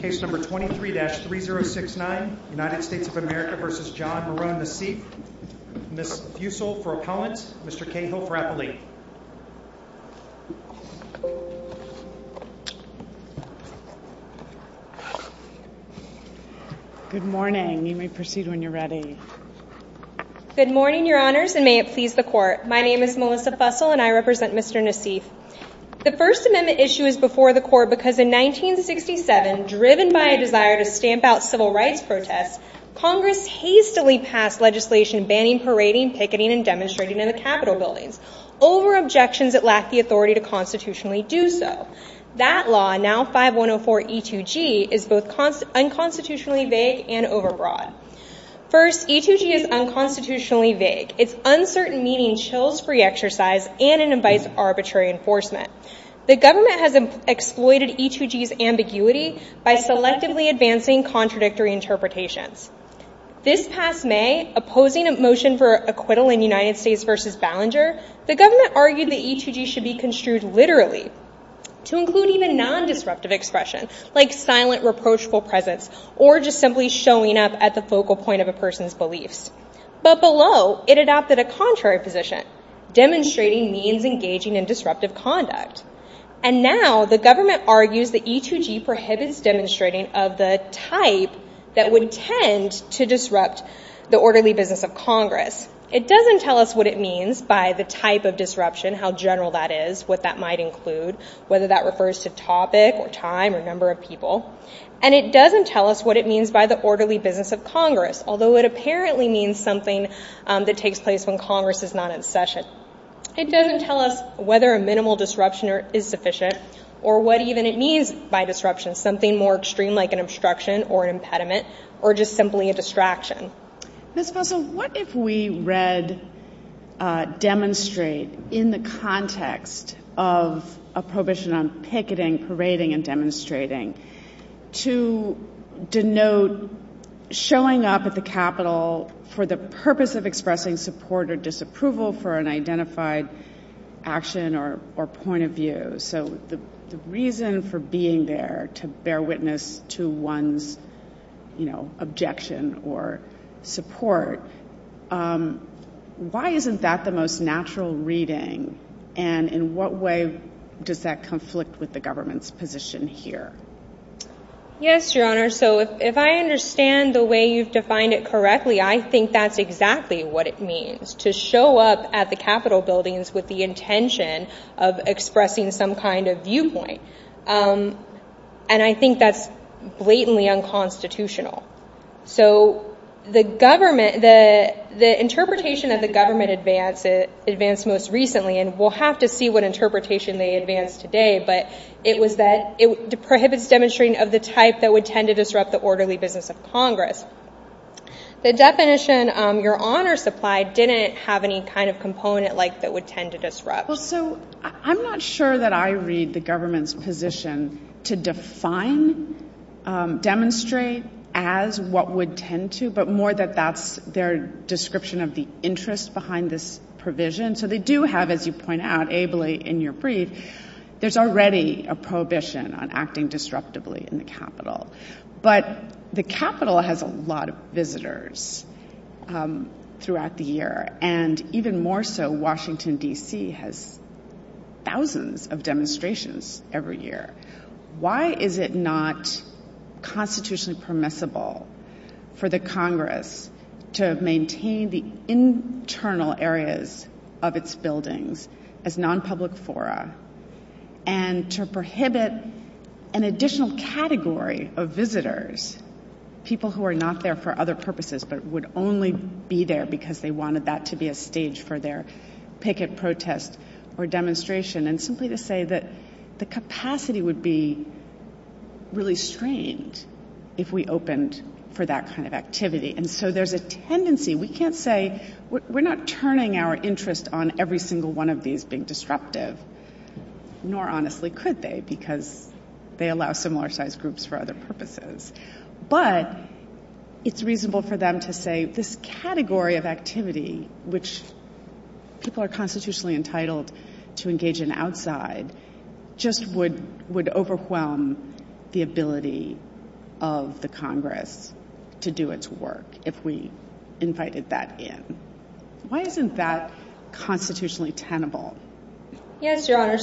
Case number 23-3069, United States of America v. John Marone Nassif, Ms. Fussell for Appellant, Mr. Cahill for Appellant. Good morning. You may proceed when you're ready. Good morning, your honors, and may it please the court. My name is Melissa Fussell and I represent Mr. Nassif. The First Amendment issue is before the court because in 1967, driven by a desire to stamp out civil rights protests, Congress hastily passed legislation banning parading, picketing, and demonstrating in the Capitol buildings over objections that lack the authority to constitutionally do so. That law, now 5104 E2G, is both unconstitutionally vague and overbroad. First, E2G is unconstitutionally vague. It's uncertain, meaning chills-free exercise and invites arbitrary enforcement. The government has exploited E2G's ambiguity by selectively advancing contradictory interpretations. This past May, opposing a motion for acquittal in United States v. Ballinger, the government argued that E2G should be construed literally to include even non-disruptive expression, like silent reproachful presence or just simply showing up at the focal point of a person's beliefs. But below, it adopted a contrary position, demonstrating means engaging in disruptive conduct. And now, the government argues that E2G prohibits demonstrating of the type that would tend to disrupt the orderly business of Congress. It doesn't tell us what it means by the type of disruption, how general that is, what that might include, whether that refers to topic or time or number of people. And it doesn't tell us what it means by the orderly business of Congress, although it apparently means something that takes place when Congress is not in session. It doesn't tell us whether a minimal disruption is sufficient or what even it means by disruption, something more extreme like an obstruction or an impediment or just simply a distraction. Ms. Fussell, what if we read demonstrate in the context of a prohibition on picketing, parading, and demonstrating to denote showing up at the Capitol for the purpose of expressing support or disapproval for an identified action or point of view? So the reason for being there to bear witness to one's objection or support, why isn't that the most natural reading? And in what way does that conflict with the government's position here? Yes, Your Honor. So if I understand the way you've defined it correctly, I think that's exactly what it means, to show up at the Capitol buildings with the intention of expressing some kind of viewpoint. And I think that's blatantly unconstitutional. So the interpretation that the government advanced most recently, and we'll have to see what interpretation they advanced today, but it was that it prohibits demonstrating of the type that would tend to disrupt the orderly business of Congress. The definition Your Honor supplied didn't have any kind of component like that would tend to disrupt. Well, so I'm not sure that I read the government's position to define demonstrate as what would tend to, but more that that's their description of the interest behind this provision. So they do have, as you point out ably in your brief, there's already a prohibition on acting disruptively in the Capitol. But the Capitol has a lot of visitors throughout the year, and even more so Washington, D.C. has thousands of demonstrations every year. Why is it not constitutionally permissible for the Congress to maintain the And to prohibit an additional category of visitors, people who are not there for other purposes, but would only be there because they wanted that to be a stage for their picket protest or demonstration, and simply to say that the capacity would be really strained if we opened for that kind of activity. And so there's a tendency, we can't say, we're not turning our interest on every single one of these being disruptive, nor honestly could they, because they allow similar-sized groups for other purposes. But it's reasonable for them to say this category of activity, which people are constitutionally entitled to engage in outside, just would overwhelm the ability of the Congress to do its work if we invited that in. Why isn't that constitutionally tenable? Yes, Your Honor,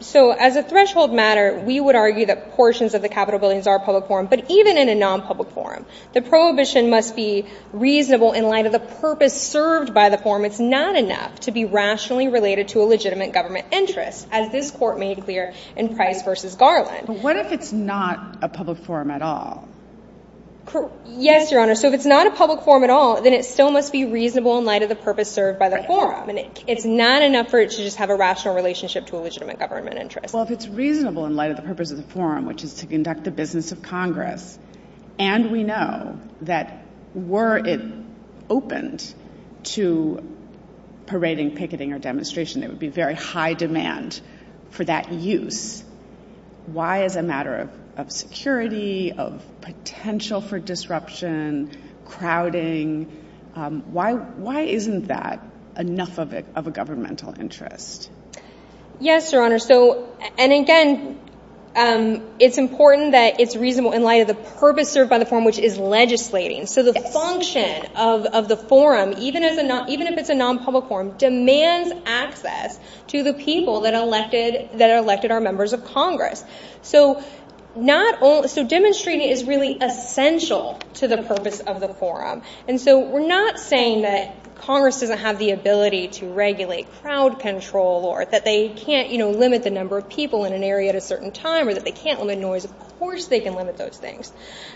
so as a threshold matter, we would argue that portions of the Capitol buildings are public forum, but even in a non-public forum, the prohibition must be reasonable in light of the purpose served by the forum. It's not enough to be rationally related to a legitimate government interest, as this Court made clear in Price v. Garland. But what if it's not a public forum at all? Yes, Your Honor, so if it's not a public forum at all, then it still must be reasonable in light of the purpose served by the forum, and it's not enough for it to just have a rational relationship to a legitimate government interest. Well, if it's reasonable in light of the purpose of the forum, which is to conduct the business of Congress, and we know that were it opened to parading, picketing, or demonstration, there would be very high demand for that use, why as a matter of security, of potential for disruption, crowding, why isn't that enough of a governmental interest? Yes, Your Honor, and again, it's important that it's reasonable in light of the purpose served by the forum, which is legislating. So the function of the forum, even if it's a public forum, is to provide access to the people that elected our members of Congress. So demonstrating is really essential to the purpose of the forum. And so we're not saying that Congress doesn't have the ability to regulate crowd control, or that they can't limit the number of people in an area at a certain time, or that they can't limit noise. Of course they can limit those things.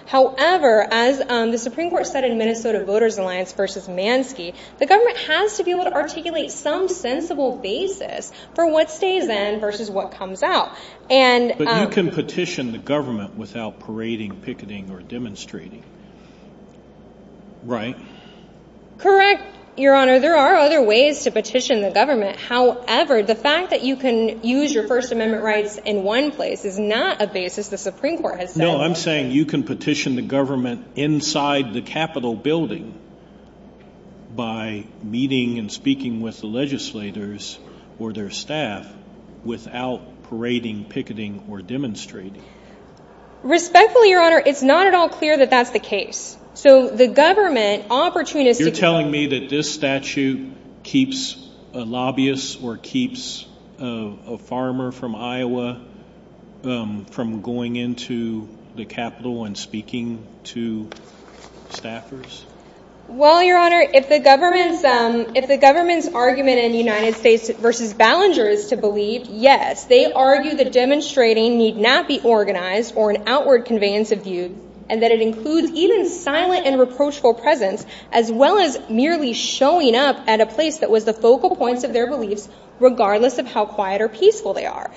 However, as the Supreme Court said in Minnesota Voters Alliance v. Mansky, the government has to be able to articulate some basis for what stays in versus what comes out. But you can petition the government without parading, picketing, or demonstrating, right? Correct, Your Honor. There are other ways to petition the government. However, the fact that you can use your First Amendment rights in one place is not a basis the Supreme Court has set. No, I'm saying you can petition the government inside the Capitol building by meeting and speaking with the legislators or their staff without parading, picketing, or demonstrating. Respectfully, Your Honor, it's not at all clear that that's the case. So the government opportunistic... You're telling me that this statute keeps a lobbyist or keeps a farmer from Iowa from going into the Capitol and speaking to staffers? Well, Your Honor, if the government's argument in the United States v. Ballenger is to believe, yes, they argue that demonstrating need not be organized or an outward conveyance of view, and that it includes even silent and reproachful presence, as well as merely showing up at a place that was the focal points of their beliefs, regardless of how quiet or peaceful they are.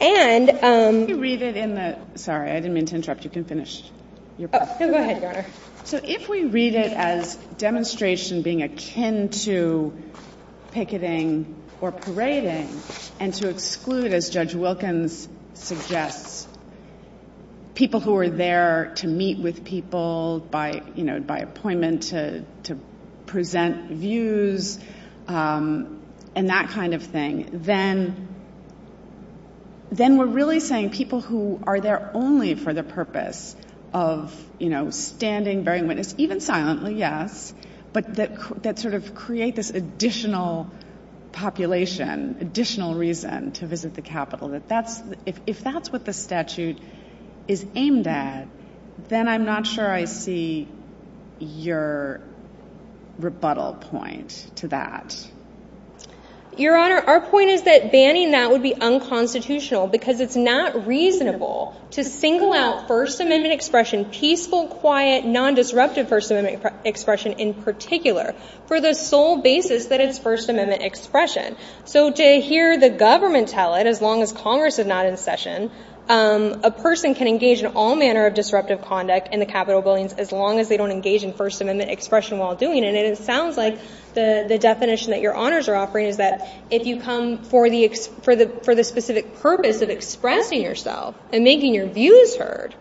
And... If we read it in the... Sorry, I didn't mean to interrupt. You can finish. No, go ahead, Your Honor. So if we read it as demonstration being akin to picketing or parading, and to exclude, as Judge Wilkins suggests, people who are there to meet with people by appointment, to present views, and that kind of thing, then we're really saying people who are there only for the purpose of standing, bearing witness, even silently, yes, but that sort of create this additional population, additional reason to visit the Capitol. If that's what the statute is aimed at, then I'm not sure I see your rebuttal point to that. Your Honor, our point is that banning that would be unconstitutional because it's not reasonable to single out First Amendment expression, peaceful, quiet, non-disruptive First Amendment expression in particular, for the sole basis that it's First Amendment expression. So to hear the government tell it, as long as Congress is not in session, a person can engage in all manner of disruptive conduct in the Capitol buildings as long as they don't engage in First Amendment expression while doing it. And it sounds like the definition that honors are offering is that if you come for the specific purpose of expressing yourself and making your views heard,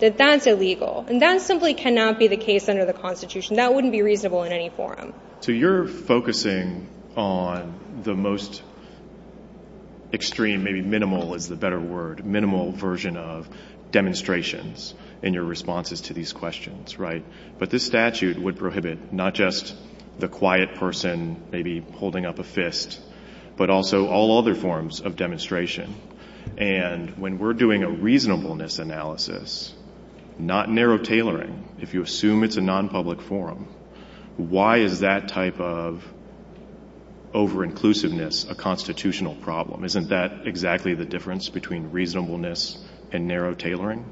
that that's illegal. And that simply cannot be the case under the Constitution. That wouldn't be reasonable in any forum. So you're focusing on the most extreme, maybe minimal is the better word, minimal version of demonstrations in your responses to these holding up a fist, but also all other forms of demonstration. And when we're doing a reasonableness analysis, not narrow tailoring, if you assume it's a non-public forum, why is that type of over-inclusiveness a constitutional problem? Isn't that exactly the difference between reasonableness and narrow tailoring?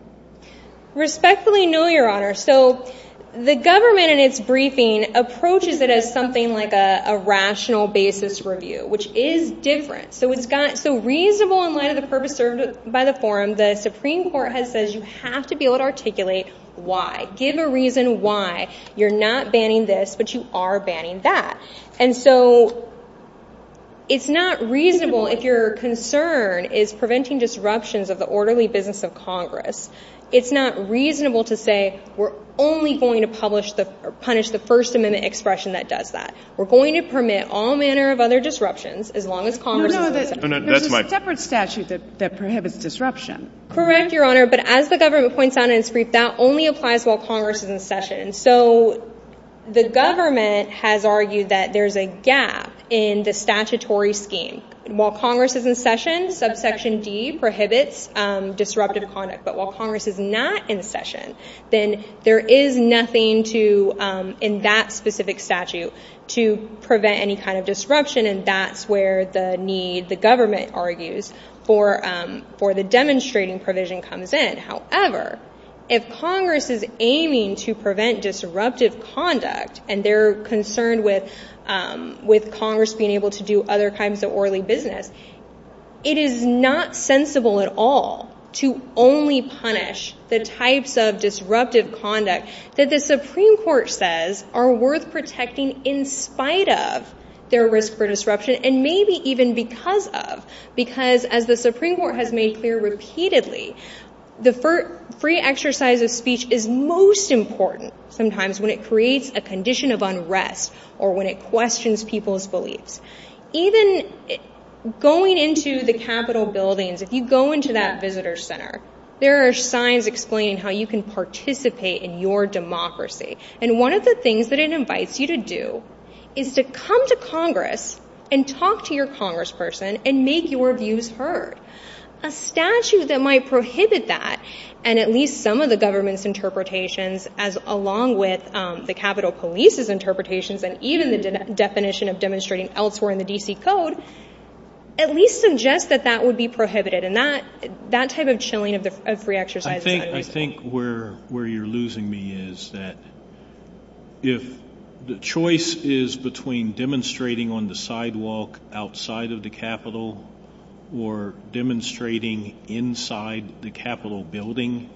Respectfully, no, Your Honor. So the government in its briefing approaches it as something like a rational basis review, which is different. So reasonable in light of the purpose served by the forum, the Supreme Court has said you have to be able to articulate why. Give a reason why you're not banning this, but you are banning that. And so it's not reasonable if your concern is preventing disruptions of the orderly business of Congress. It's not reasonable to say we're only going to punish the First Amendment expression that does that. We're going to permit all manner of other disruptions as long as Congress is in session. There's a separate statute that prohibits disruption. Correct, Your Honor. But as the government points out in its brief, that only applies while Congress is in session. So the government has argued that there's a gap in the statutory scheme. While Congress is in session, subsection D prohibits disruptive conduct. But while Congress is not in session, then there is nothing in that specific statute to prevent any kind of disruption. And that's where the need, the government argues, for the demonstrating provision comes in. However, if Congress is aiming to prevent disruptive conduct, and they're concerned with Congress being able to do other orderly business, it is not sensible at all to only punish the types of disruptive conduct that the Supreme Court says are worth protecting in spite of their risk for disruption, and maybe even because of. Because as the Supreme Court has made clear repeatedly, the free exercise of speech is most important sometimes when it creates a condition of unrest or when it questions people's going into the Capitol buildings. If you go into that visitor center, there are signs explaining how you can participate in your democracy. And one of the things that it invites you to do is to come to Congress and talk to your congressperson and make your views heard. A statute that might prohibit that, and at least some of the government's interpretations, as along with the Capitol Police's interpretations, and even the definition of at least suggest that that would be prohibited. And that type of chilling of free exercise. I think where you're losing me is that if the choice is between demonstrating on the sidewalk outside of the Capitol or demonstrating inside the Capitol building,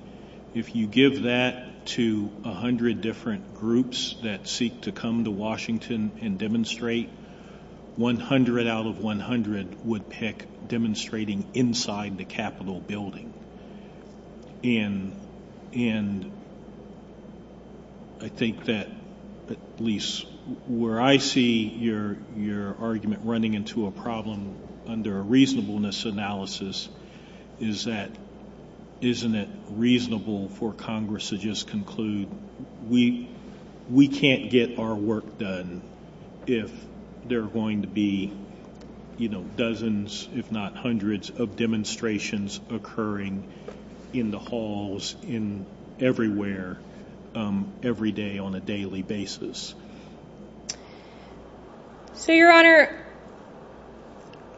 if you give that to 100 different groups that seek to come to Washington and demonstrate, 100 out of 100 would pick demonstrating inside the Capitol building. And I think that at least where I see your argument running into a problem under a reasonableness analysis is that isn't it reasonable for we can't get our work done if there are going to be dozens, if not hundreds, of demonstrations occurring in the halls, in everywhere, every day on a daily basis. So your honor,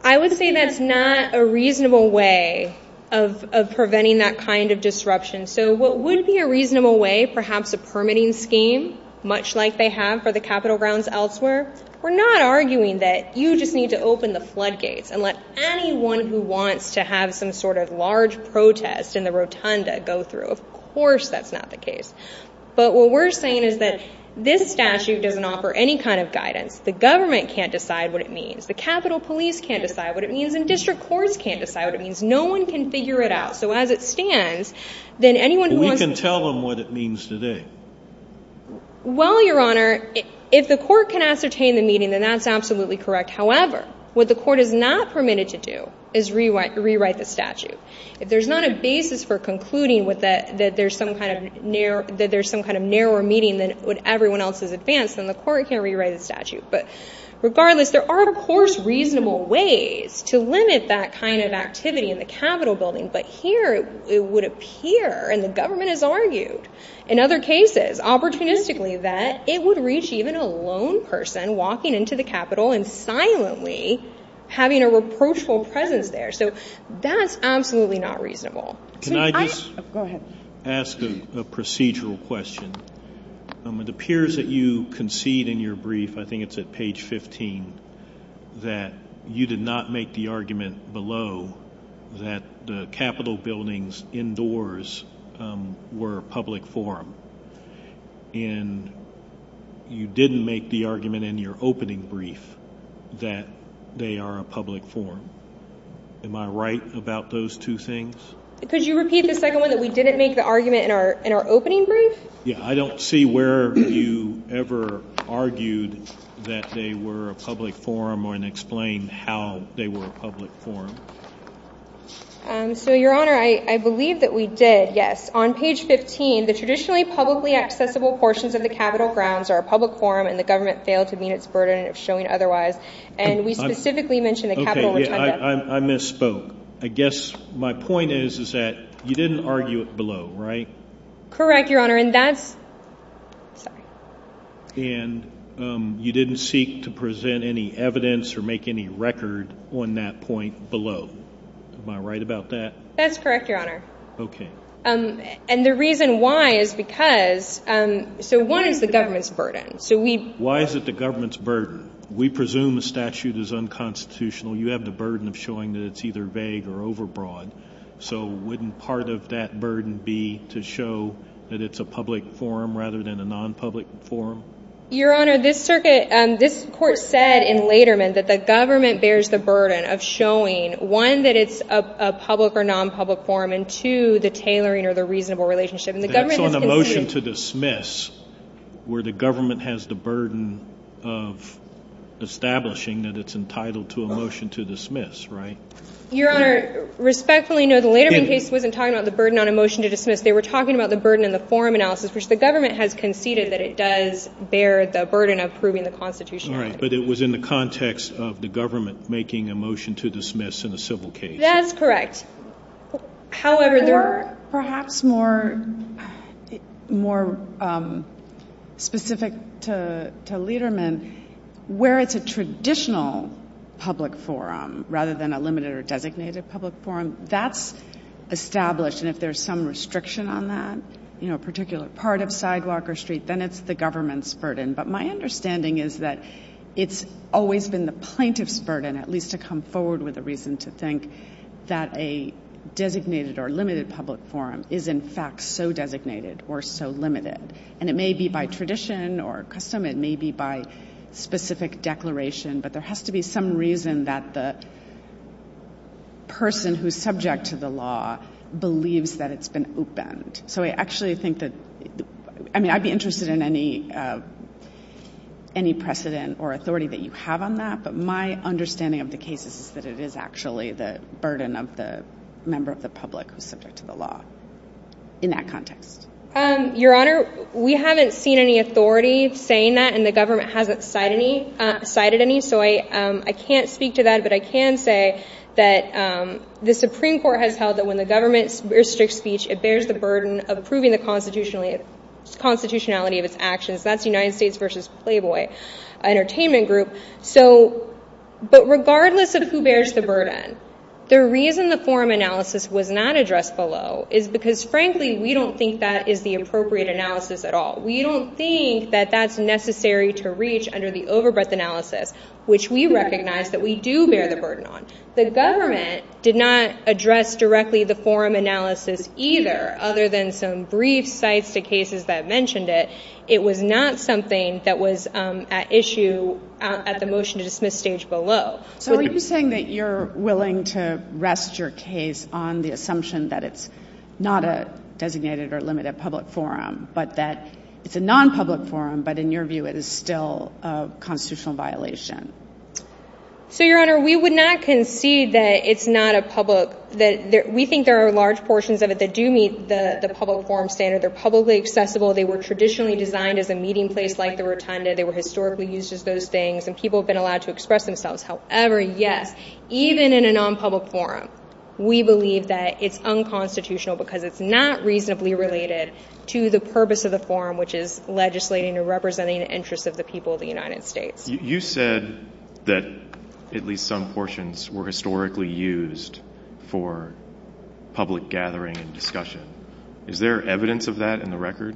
I would say that's not a reasonable way of preventing that kind of disruption. So what would be a reasonable way, perhaps a permitting scheme, much like they have for the Capitol grounds elsewhere, we're not arguing that you just need to open the floodgates and let anyone who wants to have some sort of large protest in the rotunda go through. Of course that's not the case. But what we're saying is that this statute doesn't offer any kind of guidance. The government can't decide what it means. The Capitol Police can't decide what it means. And district courts can't decide what it means. No one can figure it out. So as it stands, then anyone who wants to tell them what it means today. Well, your honor, if the court can ascertain the meeting, then that's absolutely correct. However, what the court is not permitted to do is rewrite the statute. If there's not a basis for concluding with that, that there's some kind of narrower meeting than what everyone else has advanced, then the court can rewrite the statute. But regardless, there are, of course, reasonable ways to limit that kind of activity in the Capitol building. But here it would appear, and the government has argued in other cases, opportunistically, that it would reach even a lone person walking into the Capitol and silently having a reproachful presence there. So that's absolutely not reasonable. Can I just ask a procedural question? It appears that you concede in your brief, I think it's at page 15, that you did not make the argument below that the Capitol buildings indoors were public forum. And you didn't make the argument in your opening brief that they are a public forum. Am I right about those two things? Could you repeat the second one that we didn't make the argument in our opening brief? Yeah, I don't see where you ever argued that they were a public forum or didn't explain how they were a public forum. So, Your Honor, I believe that we did, yes. On page 15, the traditionally publicly accessible portions of the Capitol grounds are a public forum and the government failed to meet its burden of showing otherwise. And we specifically mentioned the Capitol retentation. Okay, yeah, I misspoke. I guess my point is, is that you didn't argue it below, right? Correct, Your Honor, and that's, sorry. And you didn't seek to present any evidence or make any record on that point below. Am I right about that? That's correct, Your Honor. Okay. And the reason why is because, so one is the government's burden. So we... Why is it the government's burden? We presume a statute is unconstitutional. You have the burden of showing that it's either vague or overbroad. So wouldn't part of that burden be to show that it's a public forum rather than a non-public forum? Your Honor, this circuit, this court said in Lederman that the government bears the burden of showing, one, that it's a public or non-public forum, and two, the tailoring or the reasonable relationship. And the government... That's on a motion to dismiss where the government has the burden of establishing that it's entitled to a motion to dismiss, right? Your Honor, respectfully, no, the Lederman case wasn't talking about the burden on a motion to dismiss. They were talking about the burden in the forum analysis, which the government has conceded that it does bear the burden of proving the constitutionality. All right, but it was in the context of the government making a motion to dismiss in a civil case. That's correct. However, there are... Perhaps more specific to Lederman, where it's a traditional public forum rather than a limited or designated public forum, that's established. And if there's some restriction on that, you know, particular part of Sidewalker Street, then it's the government's burden. But my understanding is that it's always been the plaintiff's burden, at least to come forward with a reason to think that a designated or limited public forum is in fact so designated or so limited. And it may be by tradition or custom, it may be by specific declaration, but there has to be some reason that the person who's subject to the law believes that it's been opened. So I actually think that... I mean, I'd be interested in any precedent or authority that you have on that, but my understanding of the case is that it is actually the burden of the member of the public who's subject to the law in that context. Your Honor, we haven't seen any I can't speak to that, but I can say that the Supreme Court has held that when the government restricts speech, it bears the burden of approving the constitutionality of its actions. That's United States v. Playboy Entertainment Group. But regardless of who bears the burden, the reason the forum analysis was not addressed below is because, frankly, we don't think that is the appropriate analysis at all. We don't think that that's necessary to reach under the analysis, which we recognize that we do bear the burden on. The government did not address directly the forum analysis either, other than some brief sites to cases that mentioned it. It was not something that was at issue at the motion to dismiss stage below. So are you saying that you're willing to rest your case on the assumption that it's not a designated or limited public forum, but that it's a non-public forum, but in your view, it is still a constitutional violation? So, Your Honor, we would not concede that it's not a public. We think there are large portions of it that do meet the public forum standard. They're publicly accessible. They were traditionally designed as a meeting place, like the rotunda. They were historically used as those things, and people have been allowed to express themselves. However, yes, even in a non-public forum, we believe that it's unconstitutional because it's not reasonably related to the purpose of the forum, which is representing the interests of the people of the United States. You said that at least some portions were historically used for public gathering and discussion. Is there evidence of that in the record?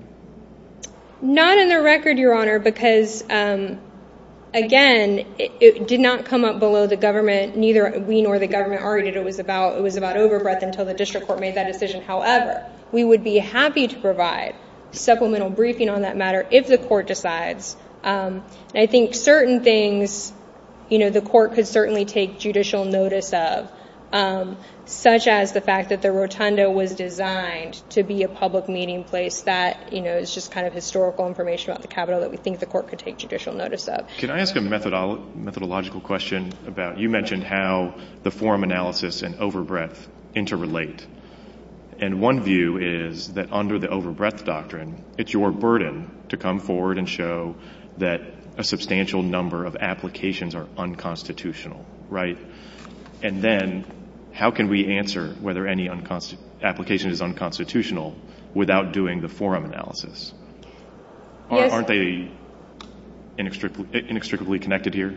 Not in the record, Your Honor, because again, it did not come up below the government. Neither we nor the government argued it was about overbreadth until the district court made that decision. However, we would be happy to provide supplemental briefing on that if the court decides. I think certain things, you know, the court could certainly take judicial notice of, such as the fact that the rotunda was designed to be a public meeting place that, you know, is just kind of historical information about the Capitol that we think the court could take judicial notice of. Can I ask a methodological question about, you mentioned how the forum analysis and overbreadth interrelate, and one view is that under the overbreadth doctrine, it's your burden to come forward and show that a substantial number of applications are unconstitutional, right? And then how can we answer whether any application is unconstitutional without doing the forum analysis? Aren't they inextricably connected here?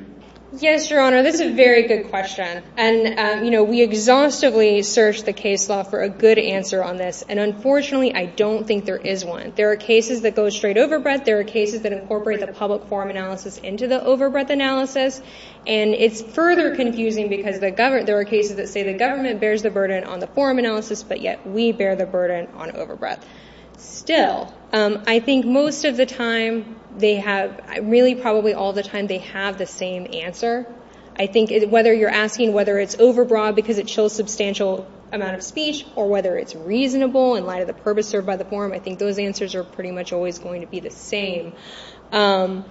Yes, Your Honor, this is a very good question. And, you know, we exhaustively searched the case law for a good answer on this. And, unfortunately, I don't think there is one. There are cases that go straight overbreadth. There are cases that incorporate the public forum analysis into the overbreadth analysis. And it's further confusing because there are cases that say the government bears the burden on the forum analysis, but yet we bear the burden on overbreadth. Still, I think most of the time they have, really probably all the time, they have the same answer. I think whether you're asking whether it's overbroad because it chills substantial amount of speech or whether it's reasonable in light of the purpose served by the forum, I think those answers are pretty much always going to be the same. So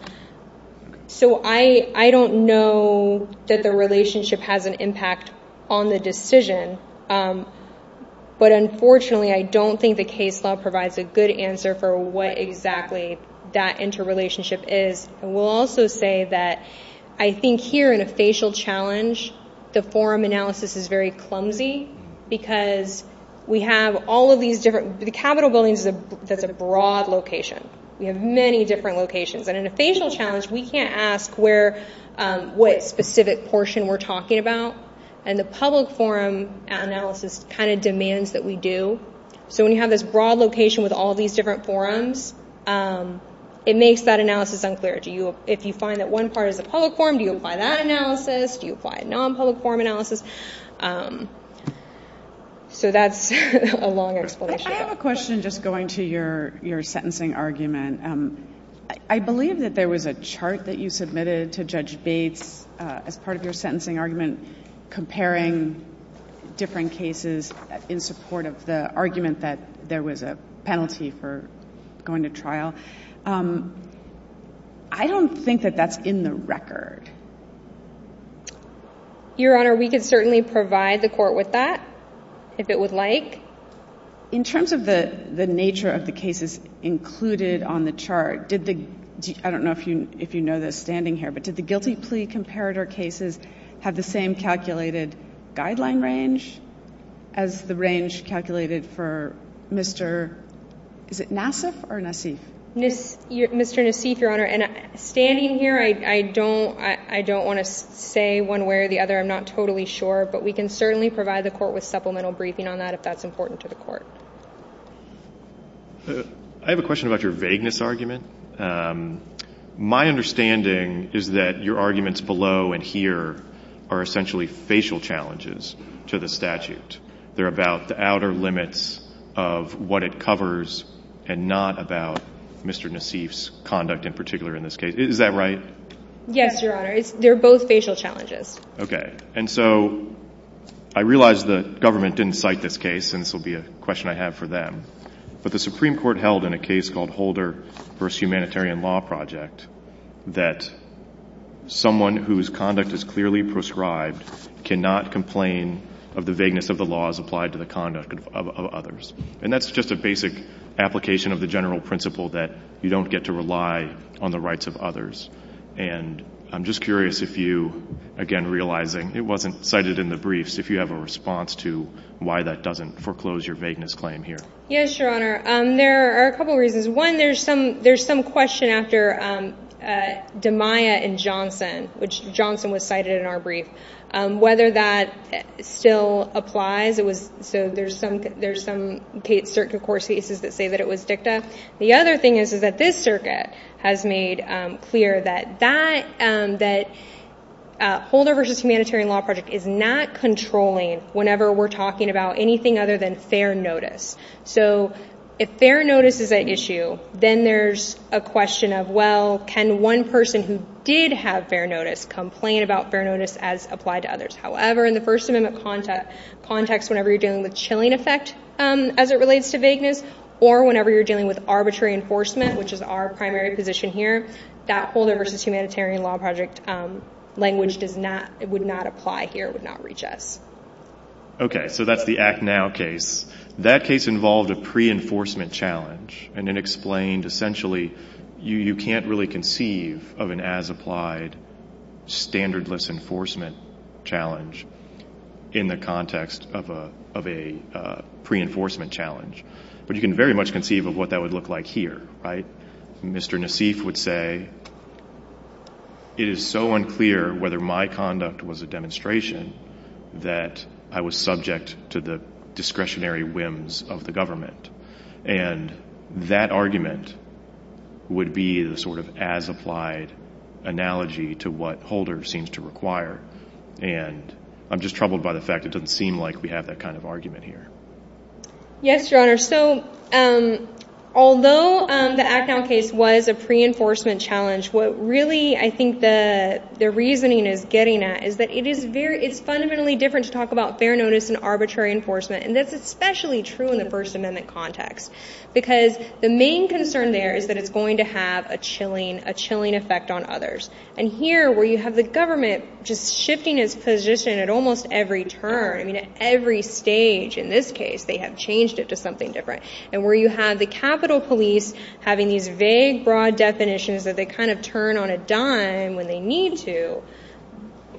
I don't know that the relationship has an impact on the decision. But, unfortunately, I don't think the case law provides a good answer for what exactly that interrelationship is. And I will also say that I think here in a facial challenge, the forum analysis is very clumsy because we have all of these different, the Capitol building is a broad location. We have many different locations. And in a facial challenge, we can't ask where, what specific portion we're talking about. And the public forum analysis kind of demands that we do. So when you have this broad location with all these different forums, it makes that analysis unclear. If you find that one part is a public forum, do you apply that analysis? Do you apply a non-public forum analysis? So that's a long explanation. I have a question just going to your sentencing argument. I believe that there was a chart that you submitted to Judge Bates as part of your sentencing argument comparing different cases in support of the argument that there was a penalty for going to trial. I don't think that that's in the record. Your Honor, we could certainly provide the court with that if it would like. In terms of the nature of the cases included on the chart, did the, I don't know if you know this standing here, but did the guilty plea comparator cases have the same calculated guideline range as the range calculated for Mr., is it Nassif or Nassif? Mr. Nassif, Your Honor. And standing here, I don't want to say one way or the other. I'm not totally sure, but we can certainly provide the court with supplemental briefing on that if that's important to the court. I have a question about your vagueness argument. My understanding is that your arguments below and here are essentially facial challenges to the statute. They're about the outer limits of what it covers and not about Mr. Nassif's conduct in particular in this case. Is that right? Yes, Your Honor. They're both facial challenges. Okay. And so I realize the government didn't cite this case and this will be a question I have for them, but the Supreme someone whose conduct is clearly prescribed cannot complain of the vagueness of the laws applied to the conduct of others. And that's just a basic application of the general principle that you don't get to rely on the rights of others. And I'm just curious if you, again, realizing it wasn't cited in the briefs, if you have a response to why that doesn't foreclose your vagueness claim here. Yes, Your Honor. There are a couple of reasons. One, there's some, there's some question after, um, uh, Damiah and Johnson, which Johnson was cited in our brief, um, whether that still applies. It was, so there's some, there's some circuit court cases that say that it was dicta. The other thing is, is that this circuit has made clear that that, um, that, uh, Holder versus humanitarian law project is not controlling whenever we're talking about anything other than issue. Then there's a question of, well, can one person who did have fair notice complain about fair notice as applied to others? However, in the first amendment contact context, whenever you're dealing with chilling effect, um, as it relates to vagueness or whenever you're dealing with arbitrary enforcement, which is our primary position here, that Holder versus humanitarian law project, um, language does not, it would not apply here. It would not reach us. Okay. So that's the Act Now case. That case involved a pre-enforcement challenge and it explained essentially you, you can't really conceive of an as applied standardless enforcement challenge in the context of a, of a, uh, pre-enforcement challenge, but you can very much conceive of what that would look like here, right? Mr. Nassif would say, it is so unclear whether my conduct was a demonstration that I was subject to the discretionary whims of the government. And that argument would be the sort of as applied analogy to what Holder seems to require. And I'm just troubled by the fact it doesn't seem like we have that kind of argument here. Yes, Your Honor. So, um, although, um, the Act Now case was a pre-enforcement challenge, what really, I think the, the reasoning is getting at is that it is very, it's fundamentally different to talk about fair notice and arbitrary enforcement. And that's especially true in the First Amendment context, because the main concern there is that it's going to have a chilling, a chilling effect on others. And here where you have the government just shifting his position at almost every turn, I mean, at every stage in this case, they have changed it to something different. And where you have the Capitol police having these turn on a dime when they need to,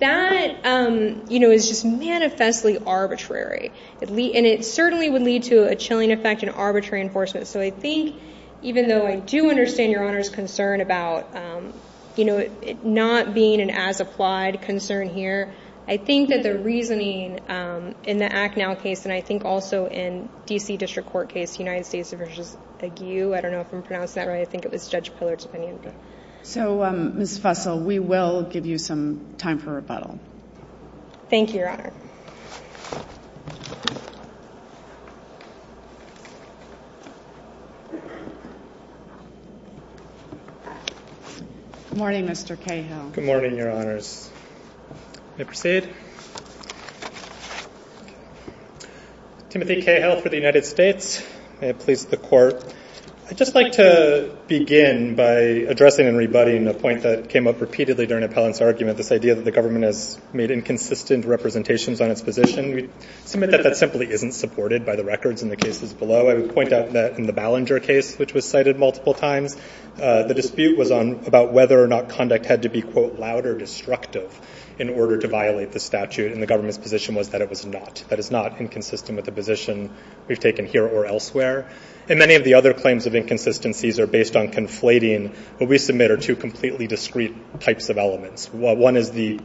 that, um, you know, is just manifestly arbitrary. And it certainly would lead to a chilling effect in arbitrary enforcement. So I think, even though I do understand Your Honor's concern about, um, you know, it not being an as applied concern here, I think that the reasoning, um, in the Act Now case, and I think also in D.C. District Court case, United States v. Ague, I don't know if I'm pronouncing that right. I think it was Judge Pillard's opinion. So, um, Ms. Fussell, we will give you some time for rebuttal. Thank you, Your Honor. Good morning, Mr. Cahill. Good morning, Your Honors. May I proceed? Timothy Cahill for the United States. May it please the Court. I'd just like to begin by addressing and rebutting a point that came up repeatedly during Appellant's argument, this idea that the government has made inconsistent representations on its position. We submit that that simply isn't supported by the records in the cases below. I would point out that in the Ballinger case, which was cited multiple times, uh, the dispute was on about whether or not conduct had to be, quote, or destructive in order to violate the statute. And the government's position was that it was not, that it's not inconsistent with the position we've taken here or elsewhere. And many of the other claims of inconsistencies are based on conflating what we submit are two completely discrete types of elements. One is the,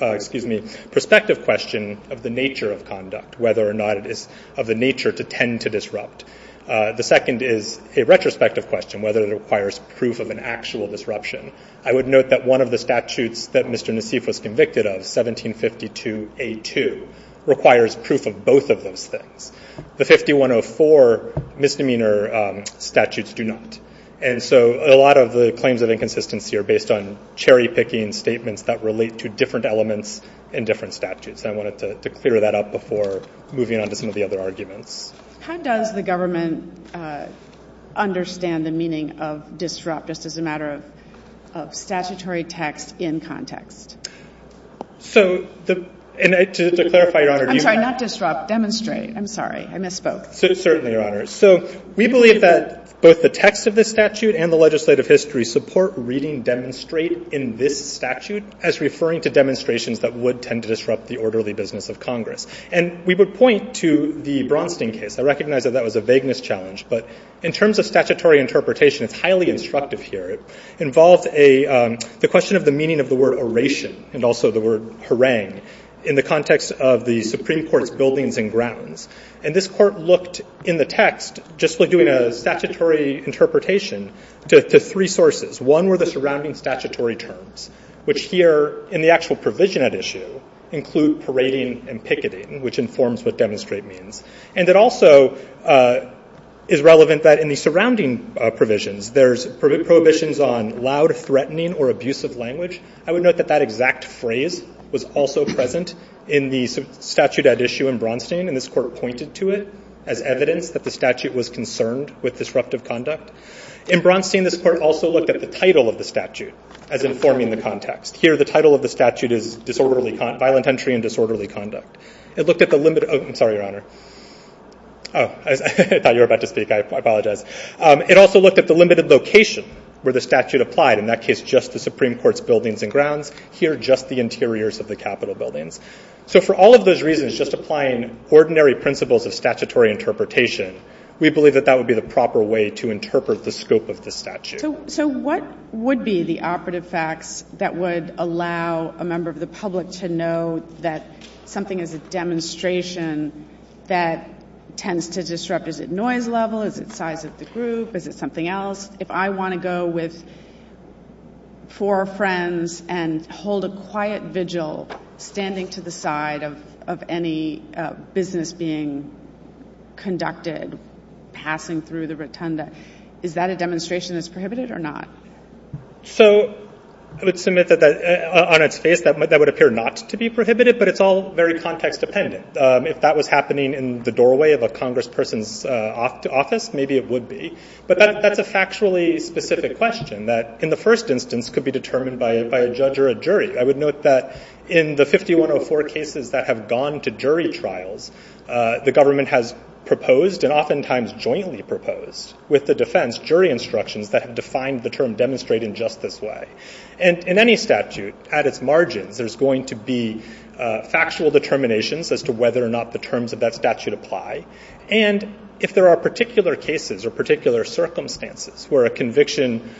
uh, excuse me, perspective question of the nature of conduct, whether or not it is of the nature to tend to disrupt. Uh, the second is a retrospective question, whether it was convicted of 1752A2 requires proof of both of those things. The 5104 misdemeanor, um, statutes do not. And so a lot of the claims of inconsistency are based on cherry picking statements that relate to different elements in different statutes. And I wanted to clear that up before moving on to some of the other arguments. How does the government, uh, understand the meaning of disrupt just as a matter of, of statutory text in context? So the, and to, to clarify, Your Honor, I'm sorry, not disrupt, demonstrate. I'm sorry. I misspoke. Certainly, Your Honor. So we believe that both the text of this statute and the legislative history support reading demonstrate in this statute as referring to demonstrations that would tend to disrupt the orderly business of Congress. And we would point to the Bronstein case. I recognize that that was a vagueness challenge, but in terms of statutory interpretation, it's highly instructive here. It involves a, um, the question of the meaning of the word oration and also the word harangue in the context of the Supreme Court's buildings and grounds. And this court looked in the text just like doing a statutory interpretation to, to three sources. One were the surrounding statutory terms, which here in the actual provision at issue include parading and picketing, which informs what demonstrate means. And it also, uh, is relevant that in the surrounding provisions, there's prohibitions on loud threatening or abusive language. I would note that that exact phrase was also present in the statute at issue in Bronstein and this court pointed to it as evidence that the statute was concerned with disruptive conduct. In Bronstein, this court also looked at the title of the statute as informing the context. Here, the title of the statute is disorderly, violent entry and disorderly conduct. It looked at the limit. Oh, I'm sorry, Your Honor. Oh, I thought you were about to speak. I apologize. Um, it also looked at the limited location where the statute applied in that case, just the Supreme Court's buildings and grounds here, just the interiors of the Capitol buildings. So for all of those reasons, just applying ordinary principles of statutory interpretation, we believe that that would be the proper way to interpret the scope of the statute. So what would be the operative facts that would allow a member of the public to know that something is a demonstration that tends to disrupt? Is it noise level? Is it size of the group? Is it something else? If I want to go with four friends and hold a quiet vigil, standing to the side of any business being conducted, passing through the rotunda, is that a demonstration that's prohibited or not? So I would submit that on its face, that would appear not to be prohibited, but it's all very context-dependent. If that was happening in the doorway of a congressperson's office, maybe it would be. But that's a factually specific question that in the first instance could be determined by a judge or a jury. I would note that in the 5104 cases that have gone to jury trials, the government has proposed and oftentimes jointly proposed with the defense jury instructions that have defined the term demonstrate in just this way. And in any statute, at its margins, there's going to be factual determinations as to whether or not the terms of that statute apply. And if there are particular cases or particular circumstances where a conviction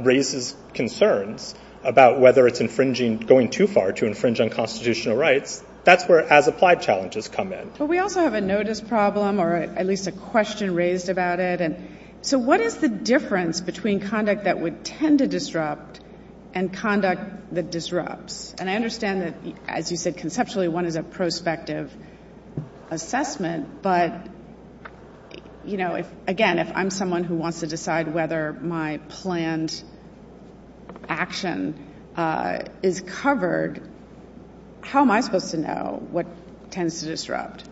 raises concerns about whether it's infringing, going too far to infringe on constitutional rights, that's where as-applied challenges come in. But we also have a notice problem or at least a question raised about it. And so what is the difference between conduct that would tend to disrupt and conduct that disrupts? And I understand that, as you said, conceptually, one is a prospective assessment. But you know, again, if I'm someone who wants to decide whether my planned action is covered, how am I supposed to know what tends to disrupt,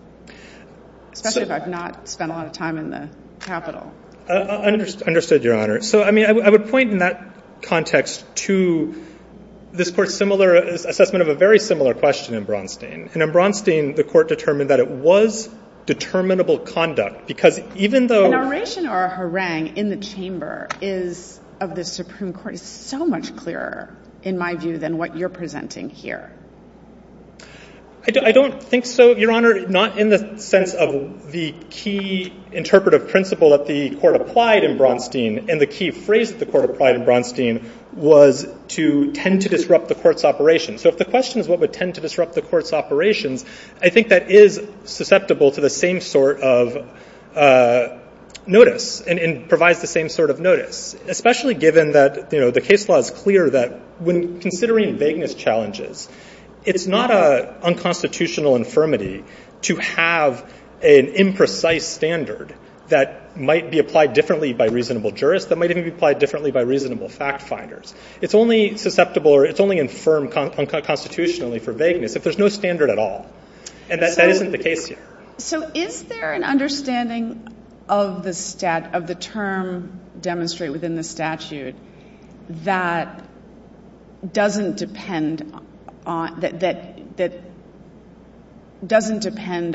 especially if I've not spent a lot of time in the Capitol? Understood, Your Honor. So I mean, I would point in that context to this Court's similar assessment of a very similar question in Bronstein. And in Bronstein, the Court determined that it was determinable conduct because even though The narration or harangue in the chamber is of the Supreme Court is so much clearer in my view than what you're presenting here. I don't think so, Your Honor, not in the sense of the key interpretive principle that the Court applied in Bronstein and the key phrase the Court applied in Bronstein was to tend to disrupt the Court's operations. So if the question is what would tend to disrupt the Court's operations, I think that is susceptible to the same sort of notice and provides the same sort of notice, especially given that, you know, the case law is clear that when considering vagueness challenges, it's not a unconstitutional infirmity to have an imprecise standard that might be applied differently by reasonable jurists that might even be applied differently by reasonable fact finders. It's only susceptible or it's only infirm unconstitutionally for vagueness if there's no standard at all. And that isn't the case here. So is there an understanding of the term demonstrated within the statute that doesn't depend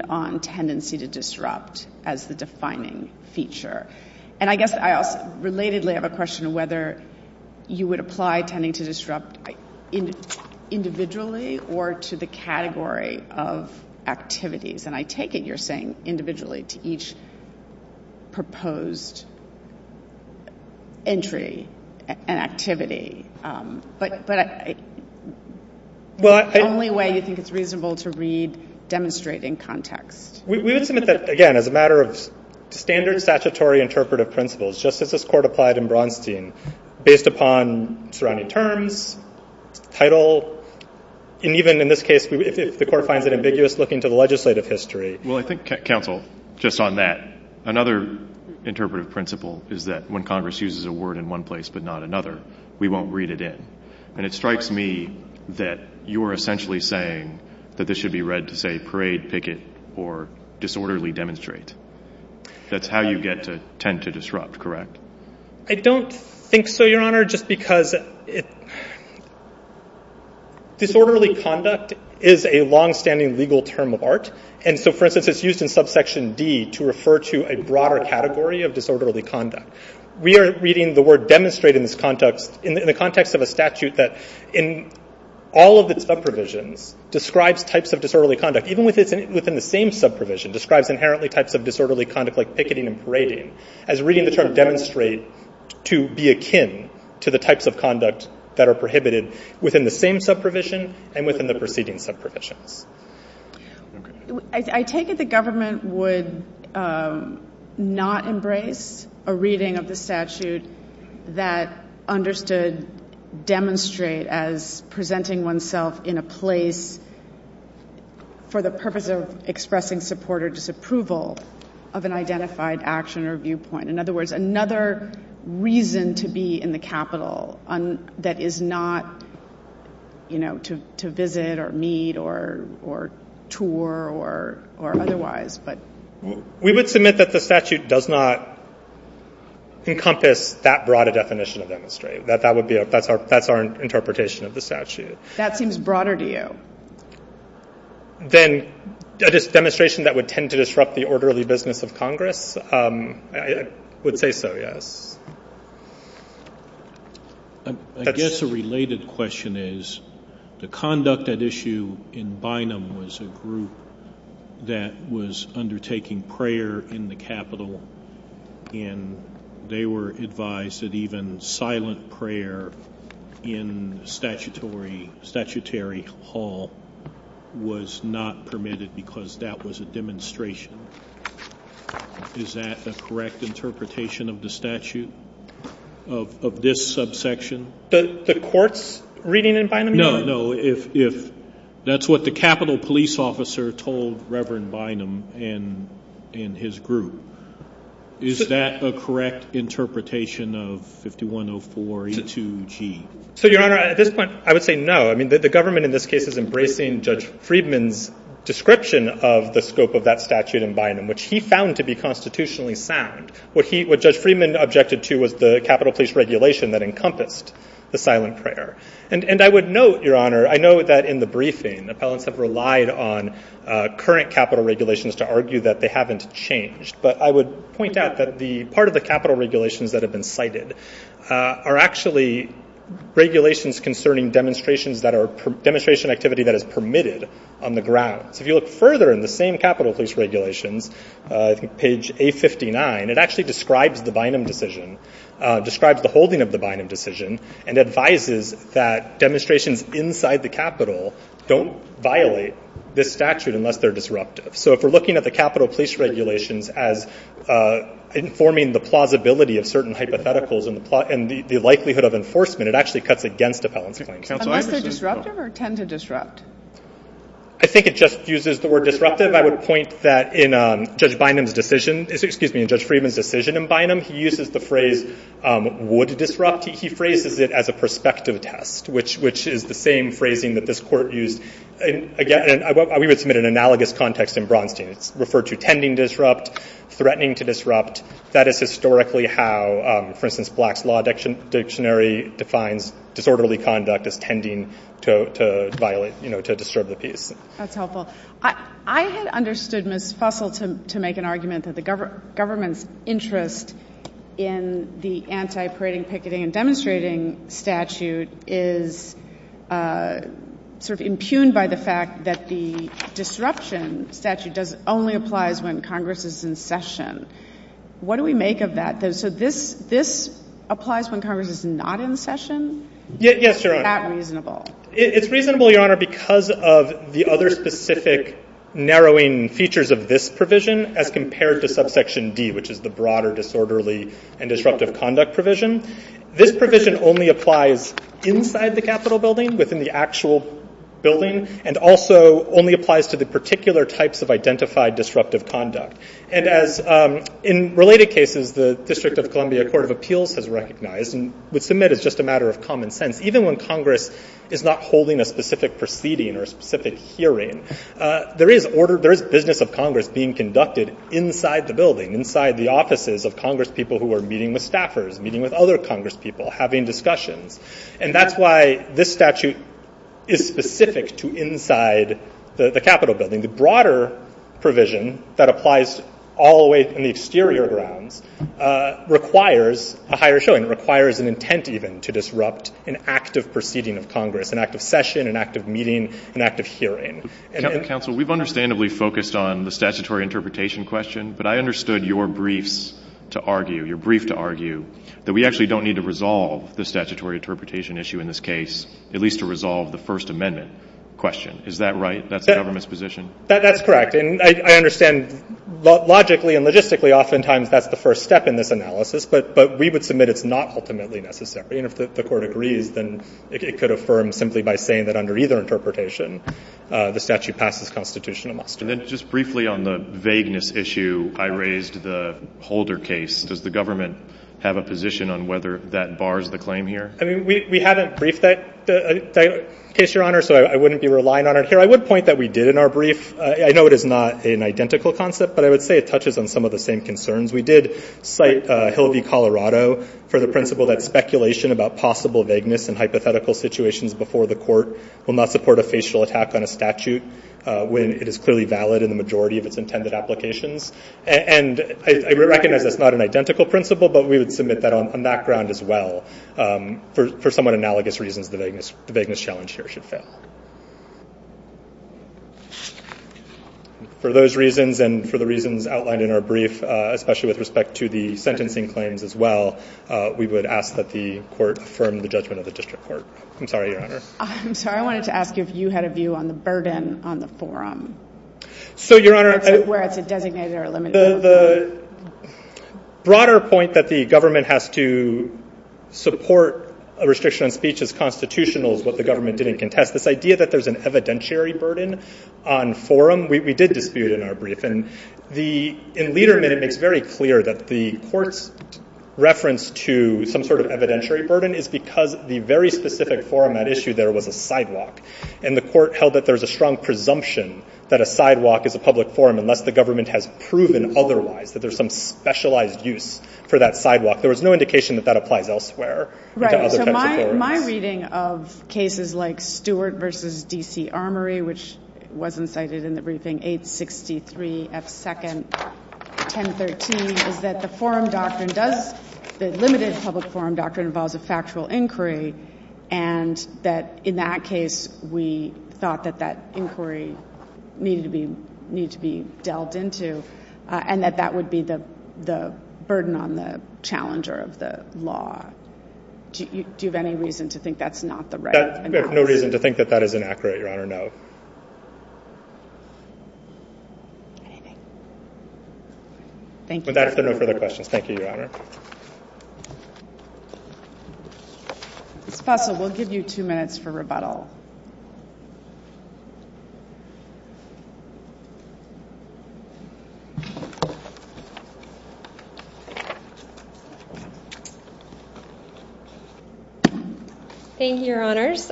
on tendency to disrupt as the defining feature? And I guess I also relatedly have a question of whether you would apply tending to disrupt individually or to the category of individually to each proposed entry and activity. But the only way you think it's reasonable to read demonstrate in context. We would submit that, again, as a matter of standard statutory interpretive principles, just as this Court applied in Bronstein, based upon surrounding terms, title, and even in this case, if the Court finds it ambiguous looking to the legislative history. Well, I think, Counsel, just on that, another interpretive principle is that when Congress uses a word in one place but not another, we won't read it in. And it strikes me that you are essentially saying that this should be read to say parade, picket, or disorderly demonstrate. That's how you get to tend to disrupt, correct? I don't think so, Your Honor, just because disorderly conduct is a long-standing legal term of art. And so, for instance, it's used in subsection D to refer to a broader category of disorderly conduct. We are reading the word demonstrate in this context, in the context of a statute that, in all of its sub-provisions, describes types of disorderly conduct, even within the same sub-provision, describes inherently types of disorderly conduct like picketing and parading, as reading the term demonstrate to be that are prohibited within the same sub-provision and within the preceding sub-provisions. Okay. I take it the government would not embrace a reading of the statute that understood demonstrate as presenting oneself in a place for the purpose of expressing support or disapproval of an identified action or viewpoint. In other words, another reason to be in the Capitol that is not to visit or meet or tour or otherwise. We would submit that the statute does not encompass that broad a definition of demonstrate. That's our interpretation of the statute. That seems broader to you. Than a demonstration that would tend to disrupt the orderly business of Congress? I would say so, yes. I guess a related question is the conduct at issue in Bynum was a group that was undertaking prayer in the Capitol and they were advised that even silent prayer in statutory hall was not permitted because that was a demonstration. Is that a correct interpretation of the statute of this subsection? The court's reading in Bynum? No, no. If that's what the Capitol police officer told Reverend Bynum and his group, is that a correct interpretation of 5104E2G? So, Your Honor, at this point, I would say no. I mean, the government in this case is embracing Judge Friedman's description of the scope of that statute in Bynum, which he found to be constitutionally sound. What Judge Friedman objected to was the Capitol police regulation that encompassed the silent prayer. And I would note, Your Honor, I know that in the briefing, appellants have relied on current Capitol regulations to argue that they haven't changed, but I would point out that part of the Capitol regulations that have been cited are actually regulations concerning demonstrations that are demonstration activity that is permitted on the ground. So if you look further in the same Capitol police regulations, I think page 859, it actually describes the Bynum decision, describes the holding of the Bynum decision, and advises that demonstrations inside the Capitol don't violate this statute unless they're disruptive. So if we're looking at the Capitol police regulations as informing the likelihood of enforcement, it actually cuts against appellants' claims. Unless they're disruptive or tend to disrupt? I think it just uses the word disruptive. I would point that in Judge Bynum's decision, excuse me, in Judge Friedman's decision in Bynum, he uses the phrase would disrupt. He phrases it as a perspective test, which is the same phrasing that this court used. Again, we would submit an analogous context in Braunstein. It's referred to tending disrupt, threatening to disrupt. That is historically how, for instance, Black's Law Dictionary defines disorderly conduct as tending to violate, to disturb the peace. That's helpful. I had understood Ms. Fussell to make an argument that the government's interest in the anti-parading, picketing, and demonstrating statute is sort of impugned by the fact that the session. What do we make of that? So this applies when Congress is not in session? Yes, Your Honor. Is that reasonable? It's reasonable, Your Honor, because of the other specific narrowing features of this provision as compared to subsection D, which is the broader disorderly and disruptive conduct provision. This provision only applies inside the Capitol building, within the actual building, and also only applies to the particular types of identified disruptive conduct. And as in related cases, the District of Columbia Court of Appeals has recognized and would submit as just a matter of common sense, even when Congress is not holding a specific proceeding or a specific hearing, there is business of Congress being conducted inside the building, inside the offices of Congress people who are meeting with staffers, meeting with other people. The broader provision that applies all the way in the exterior grounds requires a higher showing, requires an intent even to disrupt an active proceeding of Congress, an active session, an active meeting, an active hearing. Counsel, we've understandably focused on the statutory interpretation question, but I understood your briefs to argue, your brief to argue that we actually don't need to resolve the statutory interpretation issue in this case, at least to resolve the First Amendment question. Is that right? That's the government's position? That's correct. And I understand logically and logistically oftentimes that's the first step in this analysis, but we would submit it's not ultimately necessary. And if the Court agrees, then it could affirm simply by saying that under either interpretation, the statute passes constitutional muster. And then just briefly on the vagueness issue, I raised the Holder case. Does the government have a position on whether that bars the claim here? I mean, we haven't briefed that case, Your Honor, so I wouldn't be relying on it here. I would point that we did in our brief. I know it is not an identical concept, but I would say it touches on some of the same concerns. We did cite Hill v. Colorado for the principle that speculation about possible vagueness and hypothetical situations before the Court will not support a facial attack on a statute when it is clearly valid in the majority of its intended applications. And I recognize that's not an identical principle, but we would for somewhat analogous reasons, the vagueness challenge here should fail. For those reasons and for the reasons outlined in our brief, especially with respect to the sentencing claims as well, we would ask that the Court affirm the judgment of the District Court. I'm sorry, Your Honor. I'm sorry. I wanted to ask you if you had a view on the burden on the forum. So, Your Honor, where it's a designated or a limited forum. The broader point that the government has to support a restriction on speech as constitutional is what the government didn't contest. This idea that there's an evidentiary burden on forum, we did dispute in our brief. And in Lederman, it makes very clear that the Court's reference to some sort of evidentiary burden is because the very specific forum at issue there was a sidewalk. And the Court held that there's a strong presumption that a sidewalk is a public forum unless the government has proven otherwise, that there's some specialized use for that sidewalk. There was no indication that that applies elsewhere. Right. So my reading of cases like Stewart v. D.C. Armory, which was incited in the briefing 863 F. 2nd, 1013, is that the forum doctrine does the limited public forum doctrine involves a factual inquiry. And that in that case, we thought that that inquiry needed to be dealt into and that that would be the burden on the challenger of the law. Do you have any reason to think that's not the right analysis? We have no reason to think that that is inaccurate, Your Honor, no. Anything? Thank you. With that, if there are no further questions. Thank you, Your Honor. Ms. Fussell, we'll give you two minutes for rebuttal. Thank you, Your Honors.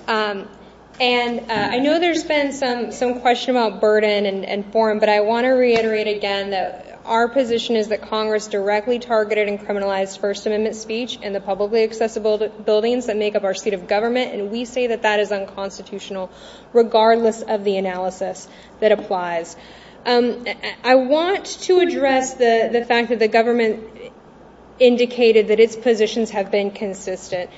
And I know there's been some question about burden and forum, but I want to reiterate again that our position is that Congress directly targeted and criminalized First Amendment speech in the publicly accessible buildings that make up our seat of government. And we say that that is unconstitutional, regardless of the analysis that applies. I want to address the fact that the government indicated that its positions have been consistent.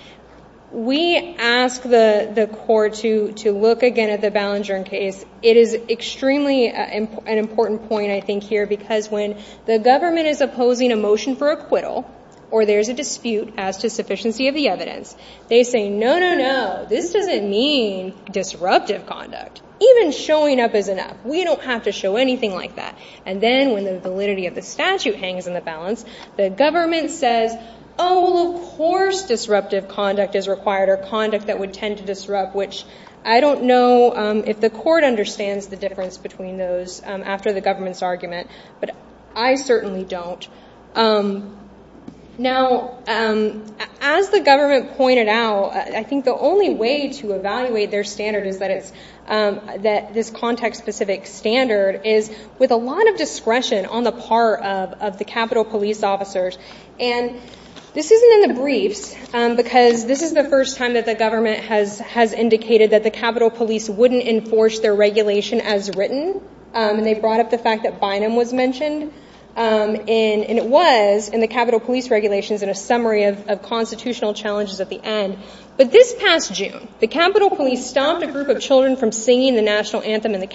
We ask the court to look again at the Ballinger case. It is extremely an important point, I think, here because when the government is opposing a motion for acquittal or there's a dispute as to sufficiency of the evidence, they say, no, no, no, this doesn't mean disruptive conduct. Even showing up is enough. We don't have to show anything like that. And then when the validity of the statute hangs in the balance, the government says, oh, well, of course disruptive conduct is required or conduct that would tend to disrupt, which I don't know if the court understands the difference between those after the government's argument, but I certainly don't. Now, as the government pointed out, I think the only way to evaluate their standard is that this context-specific standard is with a lot of discretion on the part of the Capitol Police officers. And this isn't in the briefs because this is the first time that the government has indicated that the Capitol Police wouldn't enforce their regulation as written, and they brought up the fact that Bynum was mentioned, and it was in the Capitol Police regulations in a summary of constitutional challenges at the end. But this past June, the Capitol Police stopped a group of children from singing the national anthem in the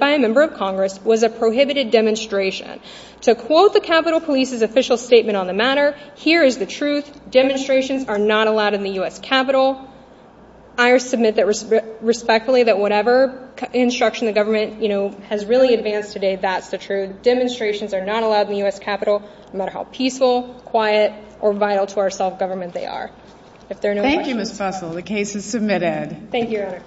by a member of Congress was a prohibited demonstration. To quote the Capitol Police's official statement on the matter, here is the truth. Demonstrations are not allowed in the U.S. Capitol. I submit that respectfully that whatever instruction the government has really advanced today, that's the truth. Demonstrations are not allowed in the U.S. Capitol, no matter how peaceful, quiet, or vital to our self-government they are. Thank you, Ms. Fussell. The case is submitted. Thank you, Your Honor.